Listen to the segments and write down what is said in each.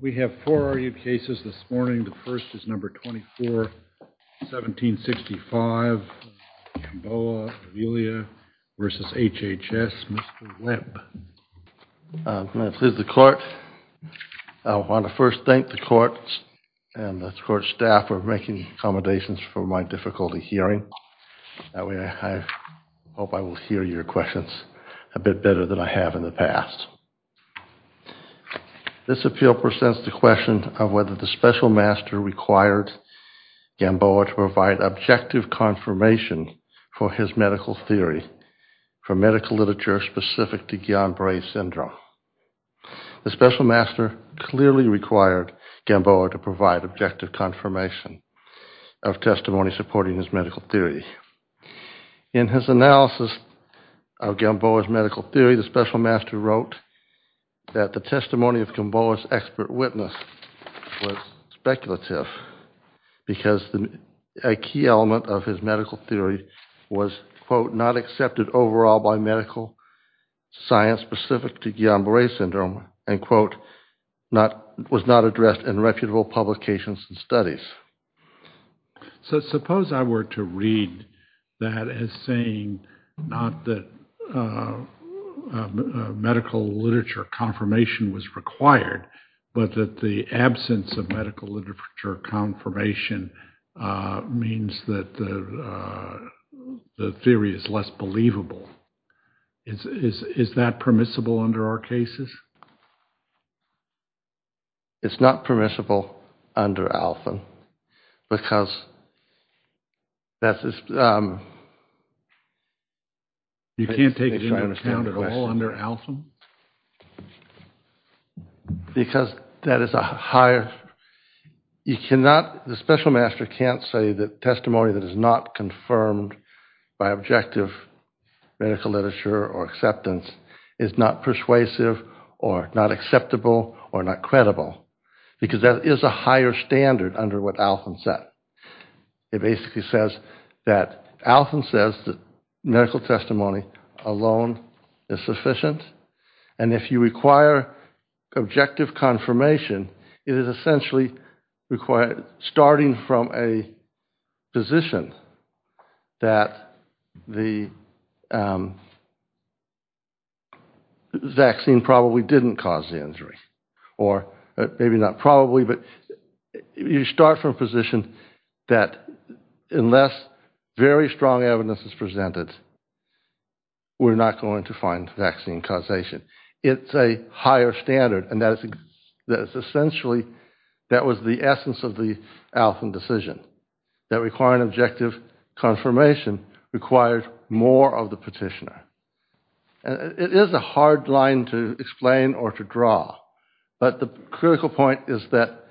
We have four argued cases this morning. The first is number 24-1765, Bamboa-Avila v. HHS. Mr. Webb. This is the court. I want to first thank the court and the court staff for making accommodations for my difficulty hearing. That way I hope I will hear your questions a bit better than I have in the past. This appeal presents the question of whether the special master required Gamboa to provide objective confirmation for his medical theory for medical literature specific to Guillain Barre syndrome. The special master clearly required Gamboa to provide objective confirmation of testimony supporting his medical theory. In his analysis of Gamboa's medical theory, the special master wrote that the testimony of Gamboa's expert witness was speculative because a key element of his medical theory was, quote, not accepted overall by medical science specific to Guillain Barre syndrome and, quote, not was not addressed in reputable publications and studies. So suppose I were to read that as saying not that medical literature confirmation was required, but that the absence of medical literature confirmation means that the theory is less believable. Is that permissible under our cases? It's not permissible under ALFIN because that's You can't take it into account at all under ALFIN? Because that is a higher, you cannot, the special master can't say that testimony that is not confirmed by objective medical literature or acceptance is not persuasive or not acceptable or not credible because that is a higher standard under what ALFIN set. It basically says that ALFIN says that medical testimony alone is sufficient and if you require objective confirmation, it is essentially starting from a position that the vaccine probably didn't cause the injury or maybe not probably, but you start from a position that unless very strong evidence is presented, we're not going to find vaccine causation. It's a higher standard and that is essentially, that was the essence of the ALFIN decision, that requiring objective confirmation requires more of the petitioner. It is a hard line to explain or to draw, but the critical point is that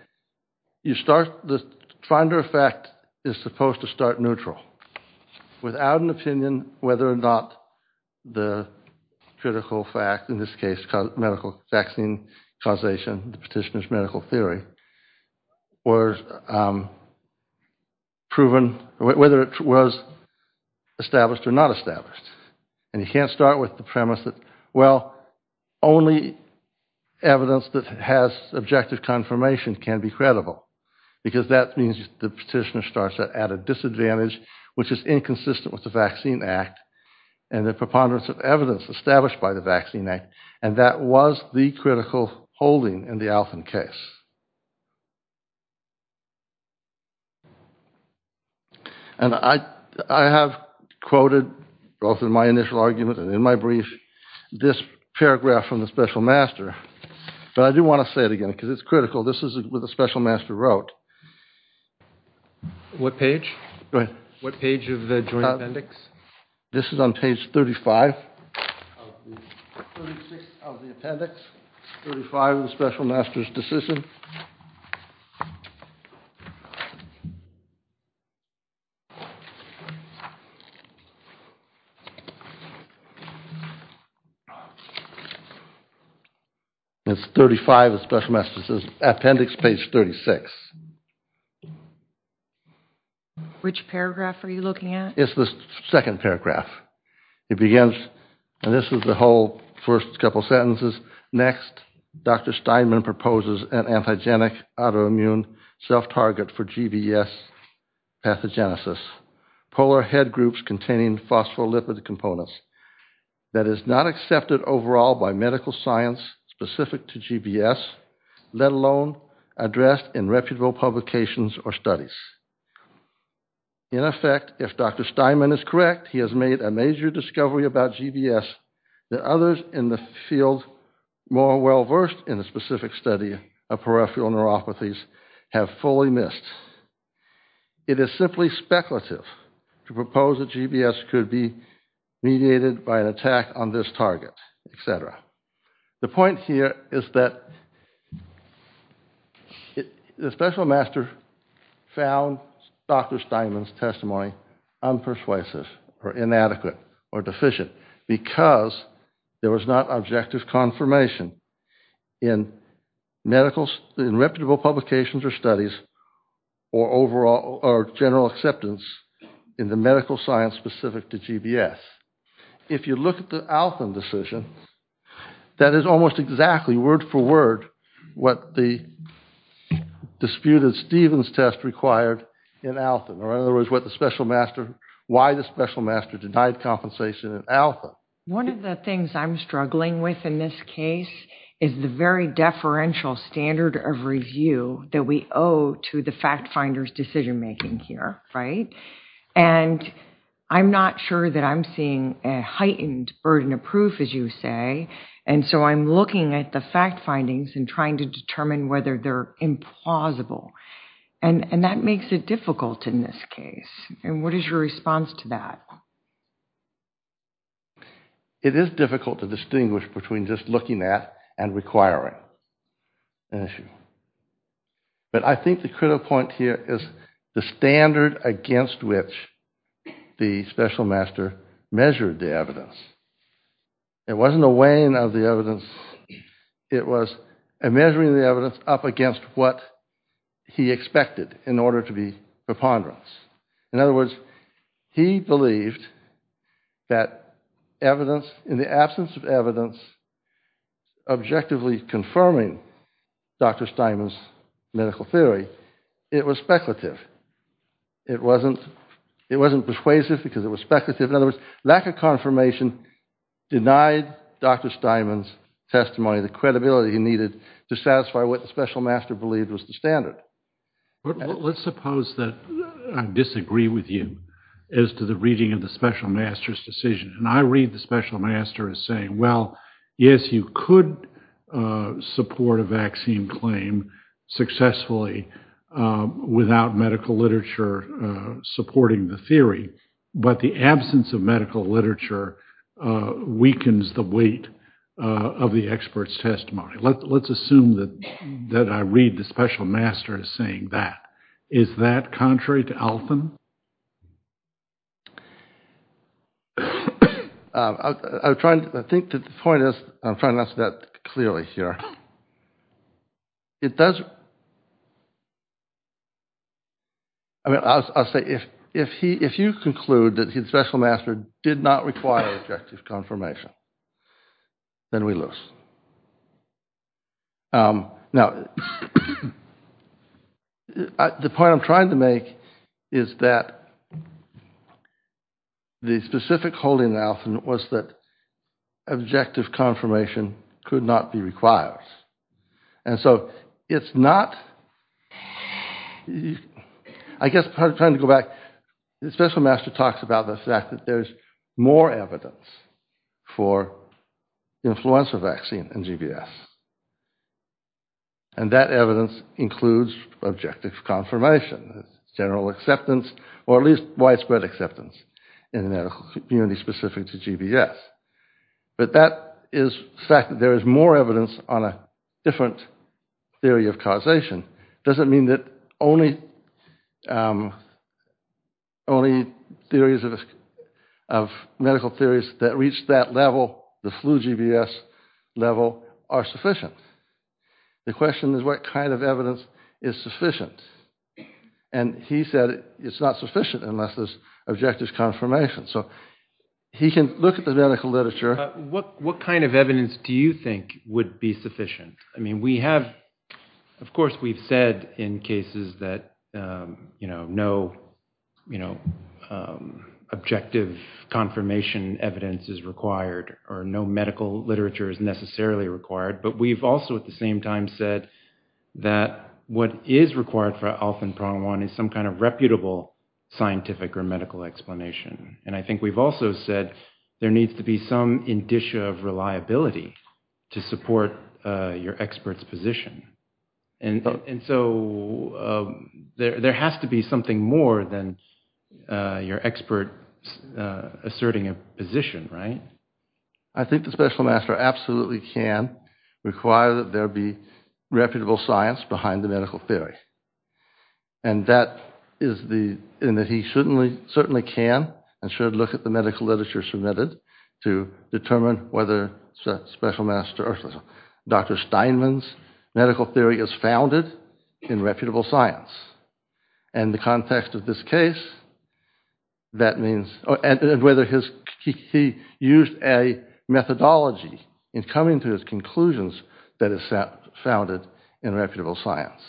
you start, the finder of fact is supposed to start neutral without an opinion whether or not the critical fact, in this case medical vaccine causation, the petitioner's medical theory, was proven, whether it was established or not established and you can't start with the premise that well, only evidence that has objective confirmation can be credible because that means the petitioner starts at a disadvantage which is inconsistent with the vaccine act and the preponderance of evidence established by the vaccine act and that was the critical holding in the ALFIN case. And I have quoted both in my initial argument and in my brief, this paragraph from the special master, but I do want to say it again because it's critical, this is what the special master wrote. What page? What page of the joint appendix? This is on page 35 of the appendix, 35 of the special master's decision. It's 35 of the special master's appendix, page 36. Which paragraph are you looking at? It's the second paragraph. It begins, and this is the whole first couple sentences, next, Dr. Steinman proposes an antigenic autoimmune self-target for GBS pathogenesis, polar head groups containing phospholipid components that is not accepted overall by medical science specific to GBS, let alone addressed in reputable publications or studies. In effect, if Dr. Steinman is correct, he has made a major discovery about GBS that others in the field more well-versed in a specific study of peripheral neuropathies have fully missed. It is simply speculative to propose that GBS could be mediated by an attack on this target, etc. The point here is that the special master found Dr. Steinman's testimony unpersuasive or inadequate or deficient because there was not objective confirmation in reputable publications or studies or general acceptance in the medical science specific to GBS. If you look at the Alton decision, that is almost exactly word for word what the disputed Stevens test required in Alton, or in other words, what the special master, why the special master denied compensation in Alton. One of the things I'm struggling with in this case is the very deferential standard of review that we owe to the fact finder's decision making here, right? And I'm not sure that I'm seeing a heightened burden of proof, as you say, and so I'm looking at the fact findings and trying to determine whether they're implausible and that makes it difficult in this case. And what is your response to that? It is difficult to distinguish between just looking at and requiring an issue. But I think the critical point here is the standard against which the special master measured the evidence. It wasn't a weighing of the evidence, it was a measuring of the evidence up against what he expected in order to be preponderance. In other words, he believed that evidence in the absence of evidence objectively confirming Dr. Steinman's medical theory, it was speculative. It wasn't persuasive because it was speculative. In other words, lack of confirmation denied Dr. Steinman's testimony, the credibility he needed to satisfy what the special master believed was the standard. Let's suppose that I disagree with you as to the reading of the special master's decision. I read the special master as saying, well, yes, you could support a vaccine claim successfully without medical literature supporting the theory, but the absence of medical literature weakens the weight of the expert's testimony. Let's assume that I read the special master as saying that. Is that contrary to Althan? I think the point is, I'm trying to ask that clearly here. I mean, I'll say if you conclude that the special master did not require objective confirmation, then we lose. Now, the point I'm trying to make is that the specific holding of Althan was that objective confirmation could not be required. And so it's not, I guess, I'm trying to go back. The special master talks about the fact that there's more evidence for influenza vaccine. And that evidence includes objective confirmation, general acceptance, or at least widespread acceptance in the medical community specific to GBS. But the fact that there is more evidence on a different theory of causation doesn't mean that only theories of medical theories that reach that level, the flu GBS level, are sufficient. The question is, what kind of evidence is sufficient? And he said it's not sufficient unless there's objective confirmation. So he can look at the medical literature. What kind of evidence do you think would be sufficient? I mean, we have, of course, we've said in cases that, you know, no, you know, objective confirmation evidence is required, or no medical literature is necessarily required. But we've also at the same time said that what is required for Althan Pronghuan is some kind of reputable scientific or medical explanation. And I think we've also said there needs to be some indicia of reliability to support your expert's position. And so there has to be something more than your expert asserting a position, right? I think the special master absolutely can require that there be reputable science behind the medical theory. And that is the, in that he certainly can and should look at the medical literature submitted to determine whether special master or Dr. Steinman's medical theory is founded in reputable science. And the context of this case, that means, and whether he used a methodology in coming to his conclusions that is founded in reputable science.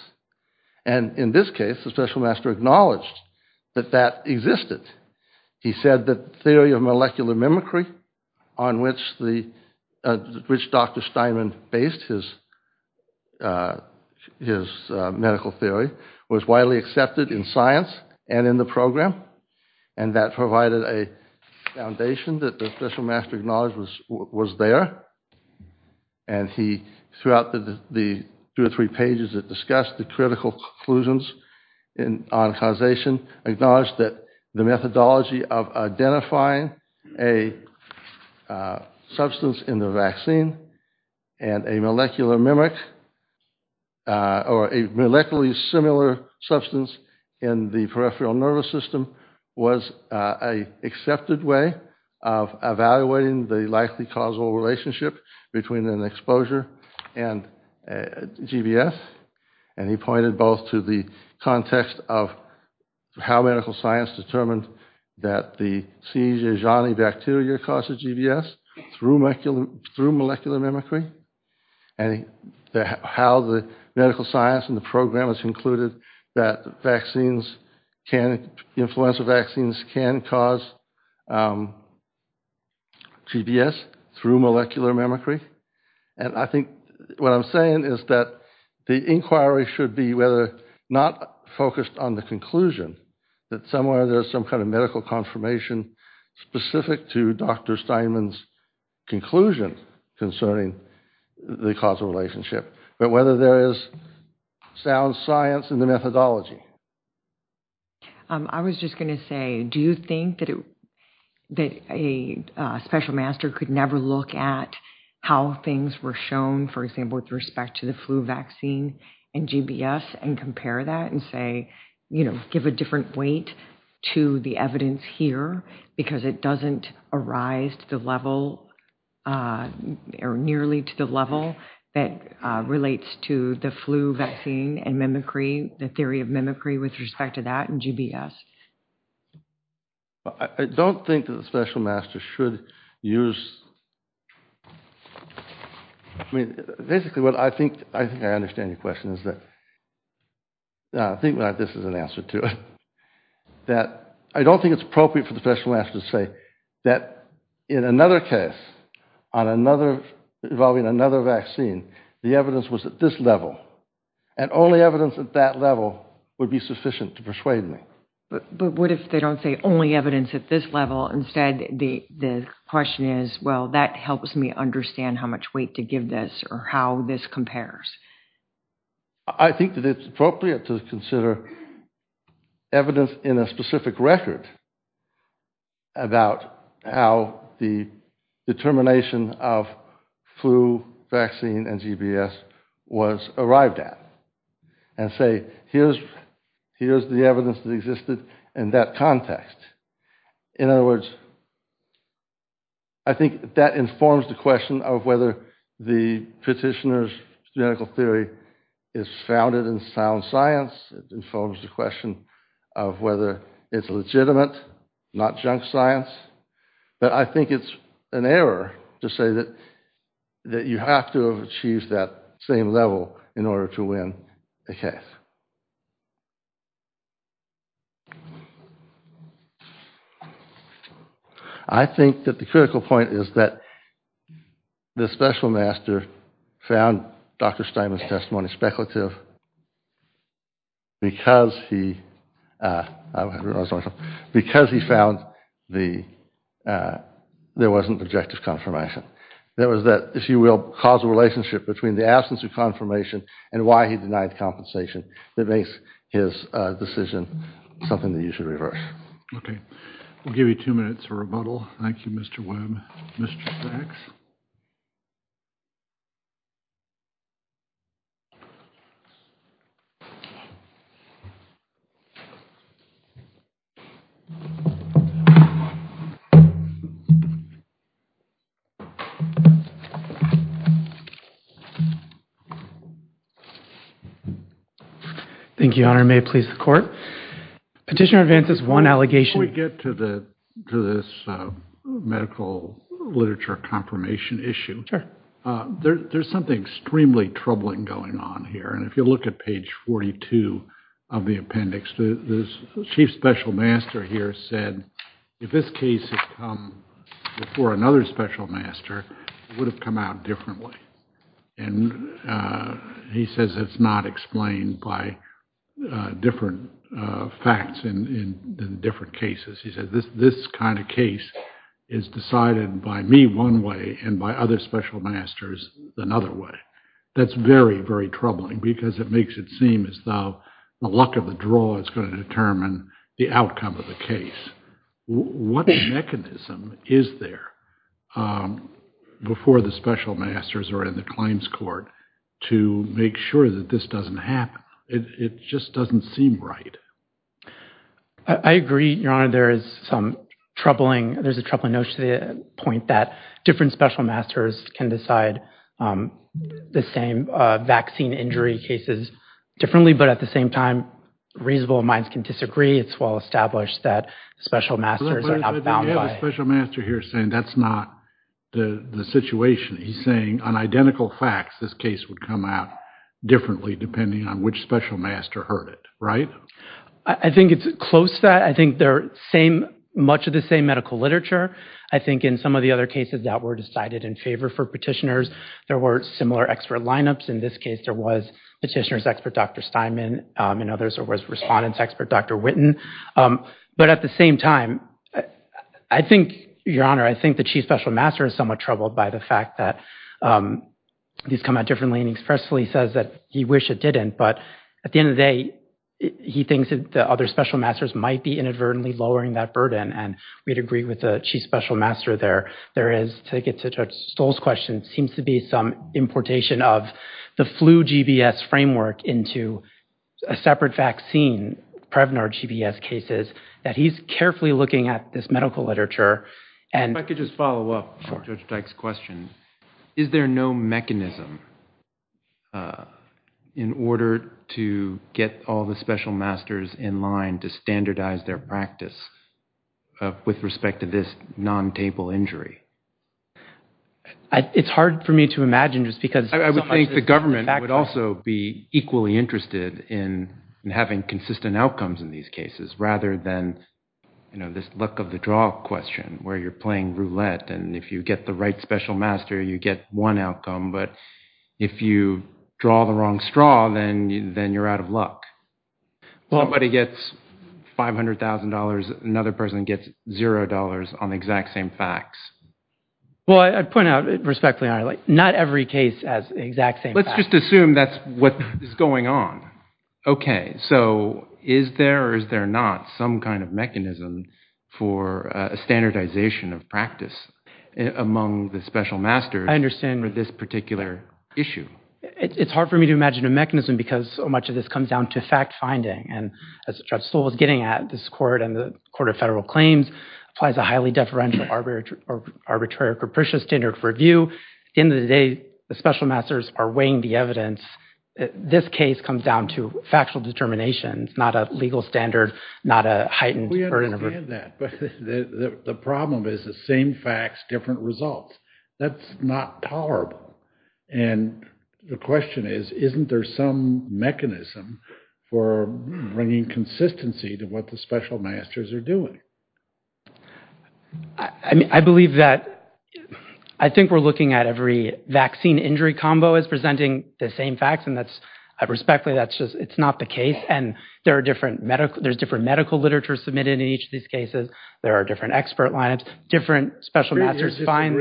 And in this case, the special master acknowledged that that existed. He said that theory of molecular mimicry on which Dr. Steinman based his medical theory was widely accepted in science and in the program. And that provided a foundation that the special master acknowledged was there. And he, throughout the two or three pages that discussed the critical conclusions on causation, acknowledged that the methodology of identifying a substance in the vaccine and a molecular mimic, or a molecularly similar substance in the peripheral nervous system was an accepted way of evaluating the likely causal relationship between an exposure and GBS. And he pointed both to the context of how medical science determined that the C. Jejani bacteria causes GBS through molecular mimicry and how the medical science and the vaccines can cause GBS through molecular mimicry. And I think what I'm saying is that the inquiry should be whether not focused on the conclusion that somewhere there's some kind of medical confirmation specific to Dr. Steinman's conclusion concerning the causal relationship, but whether there is sound science in the methodology. I was just going to say, do you think that a special master could never look at how things were shown, for example, with respect to the flu vaccine and GBS and compare that and say, you know, give a different weight to the evidence here because it doesn't arise to the level or nearly to the level that relates to the flu vaccine and mimicry, the theory of mimicry with respect to that and GBS? I don't think that the special master should use, I mean, basically what I think, I think I understand your question is that, I think this is an answer to it, that I don't think it's appropriate for the special master to say that in another case on another, involving another vaccine, the evidence was at this level. And only evidence at that level would be sufficient to persuade me. But what if they don't say only evidence at this level? Instead, the question is, well, that helps me understand how much weight to give this or how this compares. I think that it's appropriate to consider evidence in a specific record about how the determination of flu vaccine and GBS was arrived at and say, here's the evidence that existed in that context. In other words, I think that informs the question of whether the petitioner's theoretical theory is founded in sound science. It informs the question of whether it's legitimate, not junk science. But I think it's an error to say that you have to have achieved that same level in order to win the case. I think that the critical point is that the special master found Dr. Steinman's testimony speculative because he found there wasn't objective confirmation. There was that, if you will, causal relationship between the absence of confirmation and why he denied compensation that makes his decision something that you should reverse. Okay, we'll give you two minutes for rebuttal. Thank you, Mr. Webb. Mr. Sachs? Thank you, Your Honor. May it please the court. Petitioner advances one allegation. Before we get to this medical literature confirmation issue, there's something extremely troubling going on here. And if you look at page 42 of the appendix, the chief special master here said if this case had come before another special master, it would have come out differently. And he says it's not explained by different facts in different cases. He said this kind of case is decided by me one way and by other special masters another way. That's very, very troubling because it makes it seem as though the luck of the draw is going to determine the outcome of the case. What mechanism is there before the special masters or in the claims court to make sure that this doesn't happen? It just doesn't seem right. I agree, Your Honor. There is some troubling, there's a troubling notion to the point that different special masters can decide the same vaccine injury cases differently, but at the same time, reasonable minds can disagree. It's well established that special masters are not bound by special master here saying that's not the situation. He's saying on identical facts, this case would come out differently depending on which special master heard it, right? I think it's close to that. I think they're same, much of the same medical literature. I think in some of the other cases that were decided in favor for petitioners, there were similar expert lineups. In this case, there was Petitioner's expert, Dr. Steinman, and others, there was Respondent's expert, Dr. Witten. But at the same time, I think, Your Honor, I think the chief special master is somewhat troubled by the fact that these come out differently and expressly says that he wish it didn't, but at the end of the day, he thinks that the other special masters might be inadvertently lowering that burden, and we'd agree with the chief special master there. There is, to get to Judge Stoll's question, seems to be some importation of the flu GBS framework into a separate vaccine, Prevnar GBS cases, that he's carefully looking at this medical literature and- If I could just follow up on Judge Dyke's question. Is there no mechanism in order to get all the special masters in line to standardize their practice with respect to this non-table injury? It's hard for me to imagine, just because- I would think the government would also be equally interested in having consistent outcomes in these cases, rather than this luck of the draw question, where you're playing roulette and if you get the right special master, you get one outcome, but if you draw the wrong straw, then you're out of luck. Somebody gets $500,000, another person gets $0 on the exact same facts. Well, I'd point out, respectfully and honorably, not every case has the exact same facts. Let's just assume that's what is going on. Okay, so is there or is there not some kind of mechanism for a standardization of practice among the special masters for this particular issue? It's hard for me to imagine a mechanism because so much of this comes down to fact-finding, and as Judge Stoll was getting at, this court and the Court of Federal Claims applies a highly deferential arbitrary or capricious standard of review. At the end of the day, the special masters are weighing the evidence. This case comes down to factual determinations, not a legal standard, not a heightened- We understand that, but the problem is the same facts, different results. That's not tolerable, and the question is, isn't there some mechanism for bringing consistency to what the special masters are doing? I believe that. I think we're looking at every vaccine-injury combo as presenting the same facts, and that's, I respectfully, that's just, it's not the case, and there are different medical, there's different medical literature submitted in each of these cases, there are different expert lineups, different special masters find-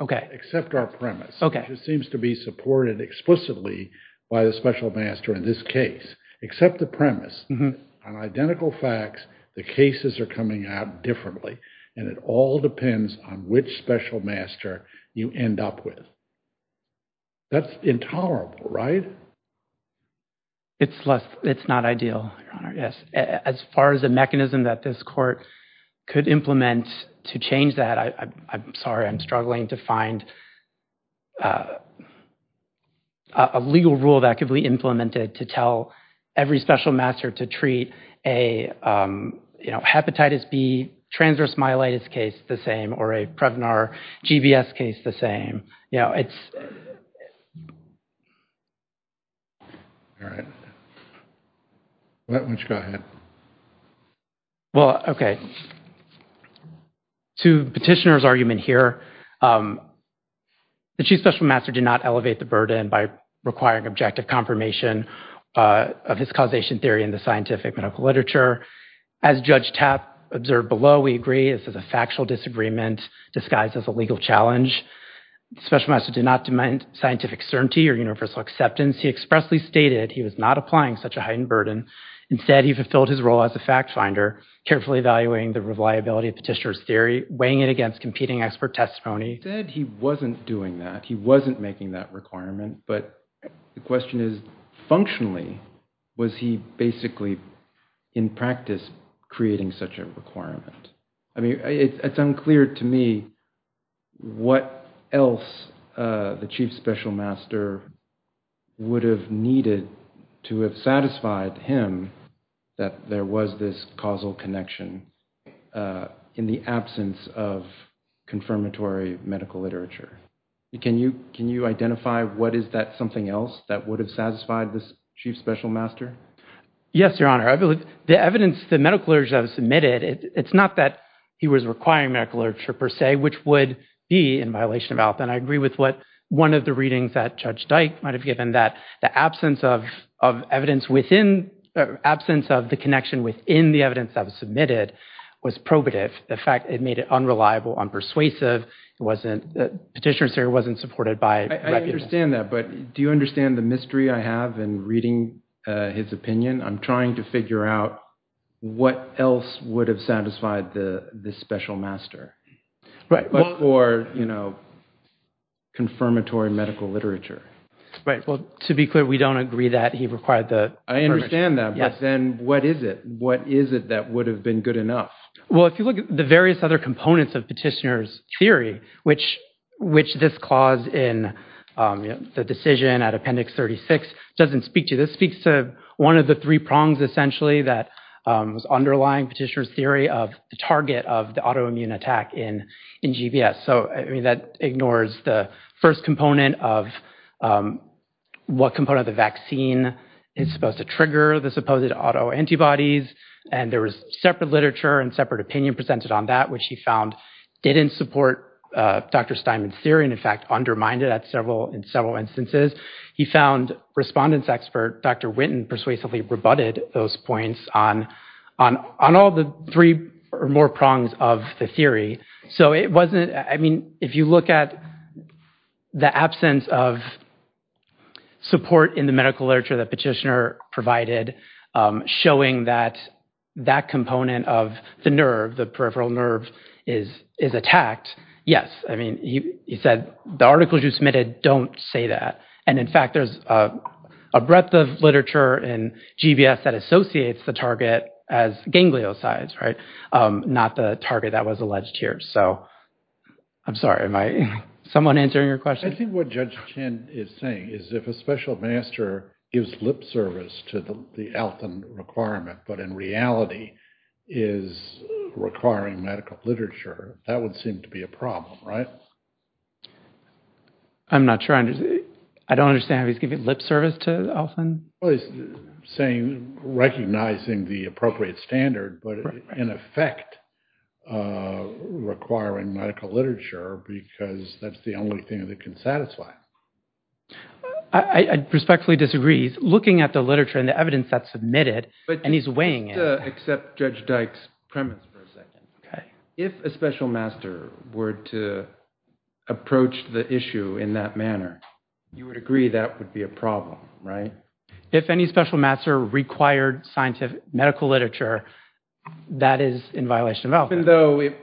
Okay. Except our premise. Okay. It seems to be supported explicitly by the special master in this case. Except the premise, on identical facts, the cases are coming out differently, and it all depends on which special master you end up with. That's intolerable, right? It's less, it's not ideal, Your Honor, yes. As far as a mechanism that this court could implement to change that, I'm sorry, I'm struggling to find a legal rule that could be implemented to tell every special master to treat a hepatitis B transverse myelitis case the same, or a Prevnar GBS case the same. All right. All right, why don't you go ahead. Well, okay. To petitioner's argument here, the chief special master did not elevate the burden by requiring objective confirmation of his causation theory in the scientific medical literature. As Judge Tapp observed below, we agree this is a factual disagreement disguised as a legal challenge. The special master did not demand scientific certainty or universal acceptance. He expressly stated he was not applying such a heightened burden. Instead, he fulfilled his role as a fact finder, carefully evaluating the reliability of petitioner's theory, weighing it against competing expert testimony. He said he wasn't doing that. He wasn't making that requirement. But the question is, functionally, was he basically, in practice, creating such a requirement? I mean, it's unclear to me what else the chief special master would have needed to have satisfied him that there was this causal connection in the absence of confirmatory medical literature. Can you identify what is that something else that would have satisfied this chief special master? Yes, Your Honor. The evidence, the medical literature that was submitted, it's not that he was requiring medical literature per se, which would be in violation of health. And I agree with what one of the readings that Judge Dyke might have given, that the absence of evidence within, absence of the connection within the evidence that was submitted was probative. The fact it made it unreliable, unpersuasive, it wasn't, petitioner's theory wasn't supported by reputations. I understand that. But do you understand the mystery I have in reading his opinion? I'm trying to figure out what else would have satisfied the special master, but for confirmatory medical literature. Right. Well, to be clear, we don't agree that he required the- I understand that, but then what is it? What is it that would have been good enough? Well, if you look at the various other components of petitioner's theory, which this clause in the decision at Appendix 36 doesn't speak to. This speaks to one of the three prongs, essentially, that was underlying petitioner's theory of the target of the autoimmune attack in GBS. So, I mean, that ignores the first component of what component of the vaccine is supposed to trigger the supposed autoantibodies. And there was separate literature and separate opinion presented on that, which he found didn't support Dr. Steinman's theory, and in fact, undermined it at several, in several instances. He found respondents expert, Dr. Witten persuasively rebutted those points on all the three or more prongs of the theory. So it wasn't, I mean, if you look at the absence of support in the medical literature that petitioner provided, showing that that component of the nerve, the peripheral nerve is attacked. Yes. I mean, he said the articles you submitted don't say that. And in fact, there's a breadth of literature in GBS that associates the target as gangliosides, right? Not the target that was alleged here. So I'm sorry, am I someone answering your question? I think what Judge Chin is saying is if a special master gives lip service to the Alton requirement, but in reality is requiring medical literature, that would seem to be a problem, right? I'm not sure I understand. I don't understand how he's giving lip service to Alton. Well, he's saying, recognizing the appropriate standard, but in effect requiring medical literature, because that's the only thing that can satisfy. I respectfully disagree. Looking at the literature and the evidence that's submitted, and he's weighing it. Except Judge Dyke's premise for a second. Okay. If a special master were to approach the issue in that manner, you would agree that would be a problem, right? If any special master required medical literature, that is in violation of Alton.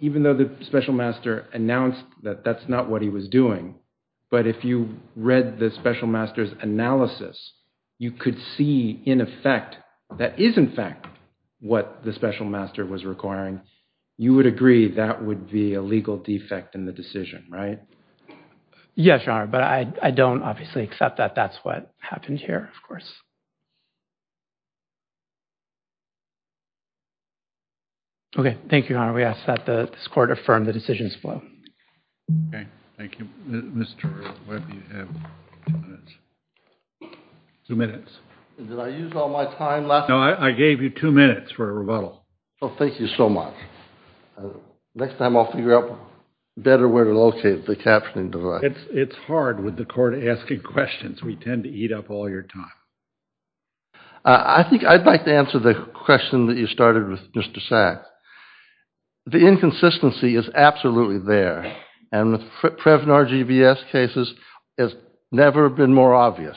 Even though the special master announced that that's not what he was doing. But if you read the special master's analysis, you could see in effect that is in fact what the special master was requiring. You would agree that would be a legal defect in the decision, right? Yes, Your Honor. But I don't obviously accept that that's what happened here, of course. Okay. Thank you, Your Honor. We ask that this court affirm the decision's flow. Okay. Thank you. Mr. Webb, you have two minutes. Did I use all my time left? No, I gave you two minutes for a rebuttal. Well, thank you so much. Next time I'll figure out better where to locate the captioning device. It's hard with the court asking questions. We tend to eat up all your time. I think I'd like to answer the question that you started with, Mr. Sacks. The inconsistency is absolutely there. And the Previnard GBS cases has never been more obvious.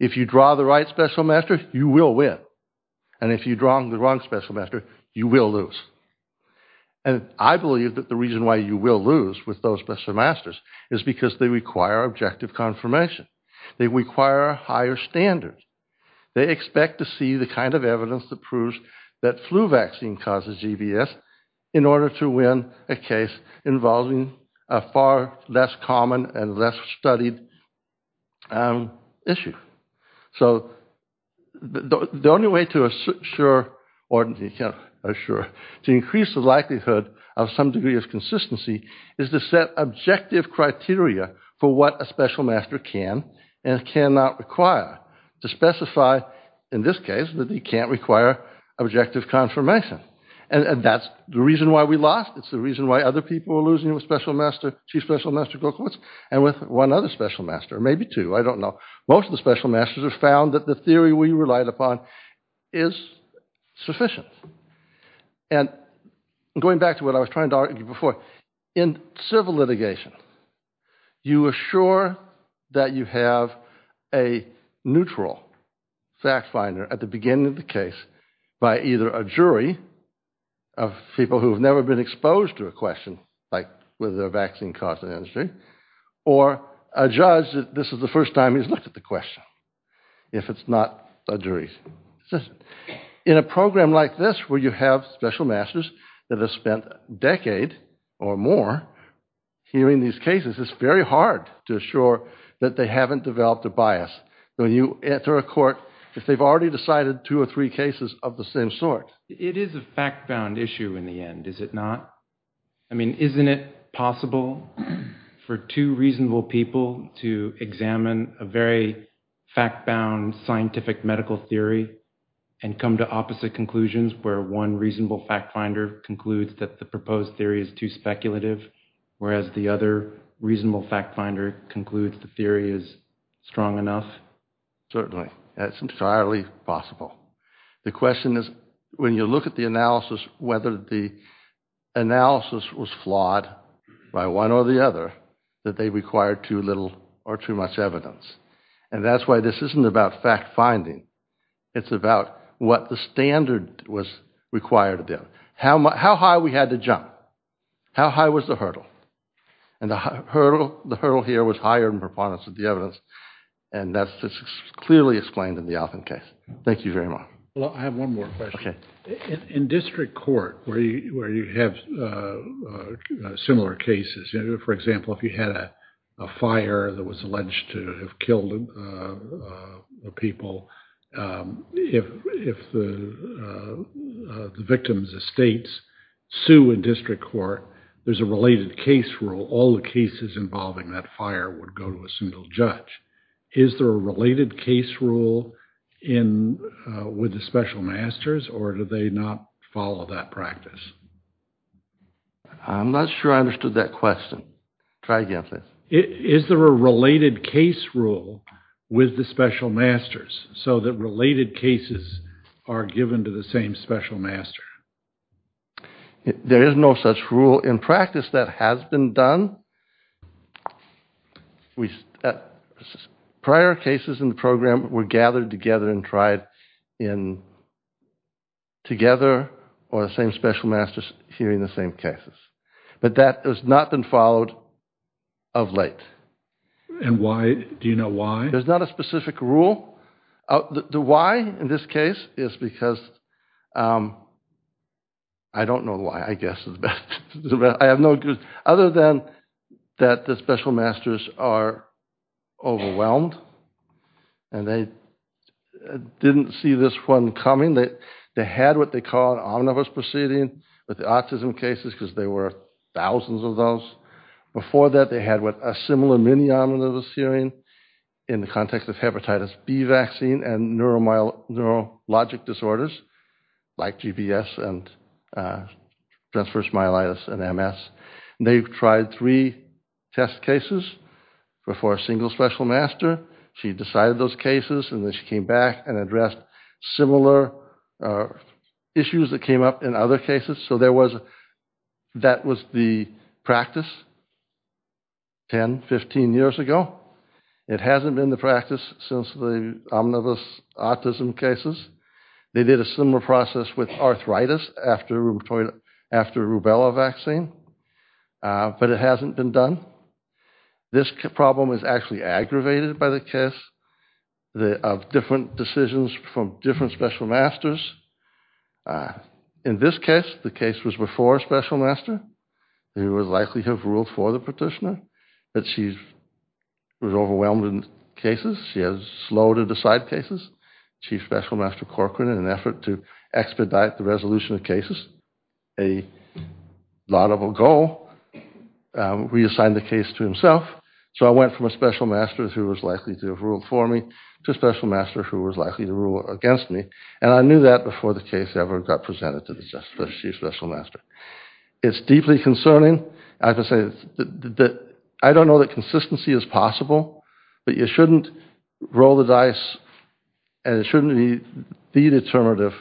If you draw the right special master, you will win. And if you draw the wrong special master, you will lose. And I believe that the reason why you will lose with those special masters is because they require objective confirmation. They require higher standards. They expect to see the kind of evidence that proves that flu vaccine causes GBS in order to win a case involving a far less common and less studied issue. So the only way to increase the likelihood of some degree of consistency is to set objective criteria for what a special master can and cannot require. To specify, in this case, that he can't require objective confirmation. And that's the reason why we lost. It's the reason why other people are losing with special master, two special master go courts, and with one other special master. Maybe two, I don't know. Most of the special masters have found that the theory we relied upon is sufficient. And going back to what I was trying to argue before, in civil litigation, you assure that you have a neutral fact finder at the beginning of the case by either a jury of people who have never been exposed to a question, like whether the vaccine caused an injury, or a judge that this is the first time he's looked at the question, if it's not a jury. In a program like this, where you have special masters that have spent a decade or more hearing these cases, it's very hard to assure that they haven't developed a bias. When you enter a court, if they've already decided two or three cases of the same sort. It is a fact found issue in the end, is it not? I mean, isn't it possible for two reasonable people to examine a very fact-bound scientific medical theory, and come to opposite conclusions where one reasonable fact finder concludes that the proposed theory is too speculative, whereas the other reasonable fact finder concludes the theory is strong enough? Certainly, that's entirely possible. The question is, when you look at the analysis, whether the analysis was flawed by one or the other, that they required too little or too much evidence. And that's why this isn't about fact finding. It's about what the standard was required of them. How high we had to jump? How high was the hurdle? And the hurdle here was higher in performance of the evidence, and that's clearly explained in the Alton case. Thank you very much. Well, I have one more question. Okay. In district court, where you have similar cases, for example, if you had a fire that was alleged to have killed people, if the victims' estates sue in district court, there's a related case rule. All the cases involving that fire would go to a single judge. Is there a related case rule with the special masters, or do they not follow that practice? I'm not sure I understood that question. Try again, please. Is there a related case rule with the special masters so that related cases are given to the same special master? There is no such rule in practice that has been done. Prior cases in the program were gathered together and tried together, or the same special masters hearing the same cases. But that has not been followed of late. And why? Do you know why? There's not a specific rule. The why in this case is because I don't know why, I guess. I have no other than that the special masters are overwhelmed, and they didn't see this one coming. They had what they call an omnibus proceeding with the autism cases because there were thousands of those. Before that, they had a similar mini-omnibus hearing in the context of hepatitis B vaccine and neurologic disorders like GBS and stress-versus-myelitis and MS. They've tried three test cases before a single special master. She decided those cases, and then she came back and addressed similar issues that came up in other cases. So that was the practice 10, 15 years ago. It hasn't been the practice since the omnibus autism cases. They did a similar process with arthritis after rubella vaccine, but it hasn't been done. This problem is actually aggravated by the case of different decisions from different special masters. In this case, the case was before a special master. They would likely have ruled for the petitioner, but she was overwhelmed in cases. She was slow to decide cases. Chief Special Master Corcoran, in an effort to expedite the resolution of cases, a laudable goal, reassigned the case to himself. So I went from a special master who was likely to have ruled for me to a special master who was likely to rule against me, and I knew that before the case ever got presented to the Chief Special Master. It's deeply concerning. I don't know that consistency is possible, but you shouldn't roll the dice, and it shouldn't be the determinative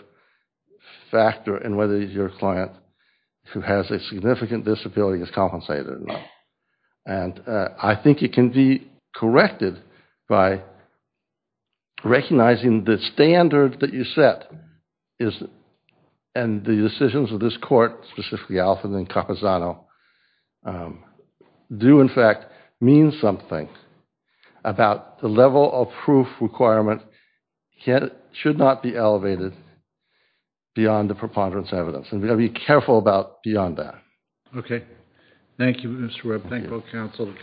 factor in whether your client who has a significant disability is compensated or not. And I think it can be corrected by recognizing the standard that you set and the decisions of this court, specifically Alfred and Caposano, do, in fact, mean something about the level of proof requirement should not be elevated beyond the preponderance evidence. And we have to be careful about beyond that. Okay. Thank you, Mr. Webb. Thank you, counsel.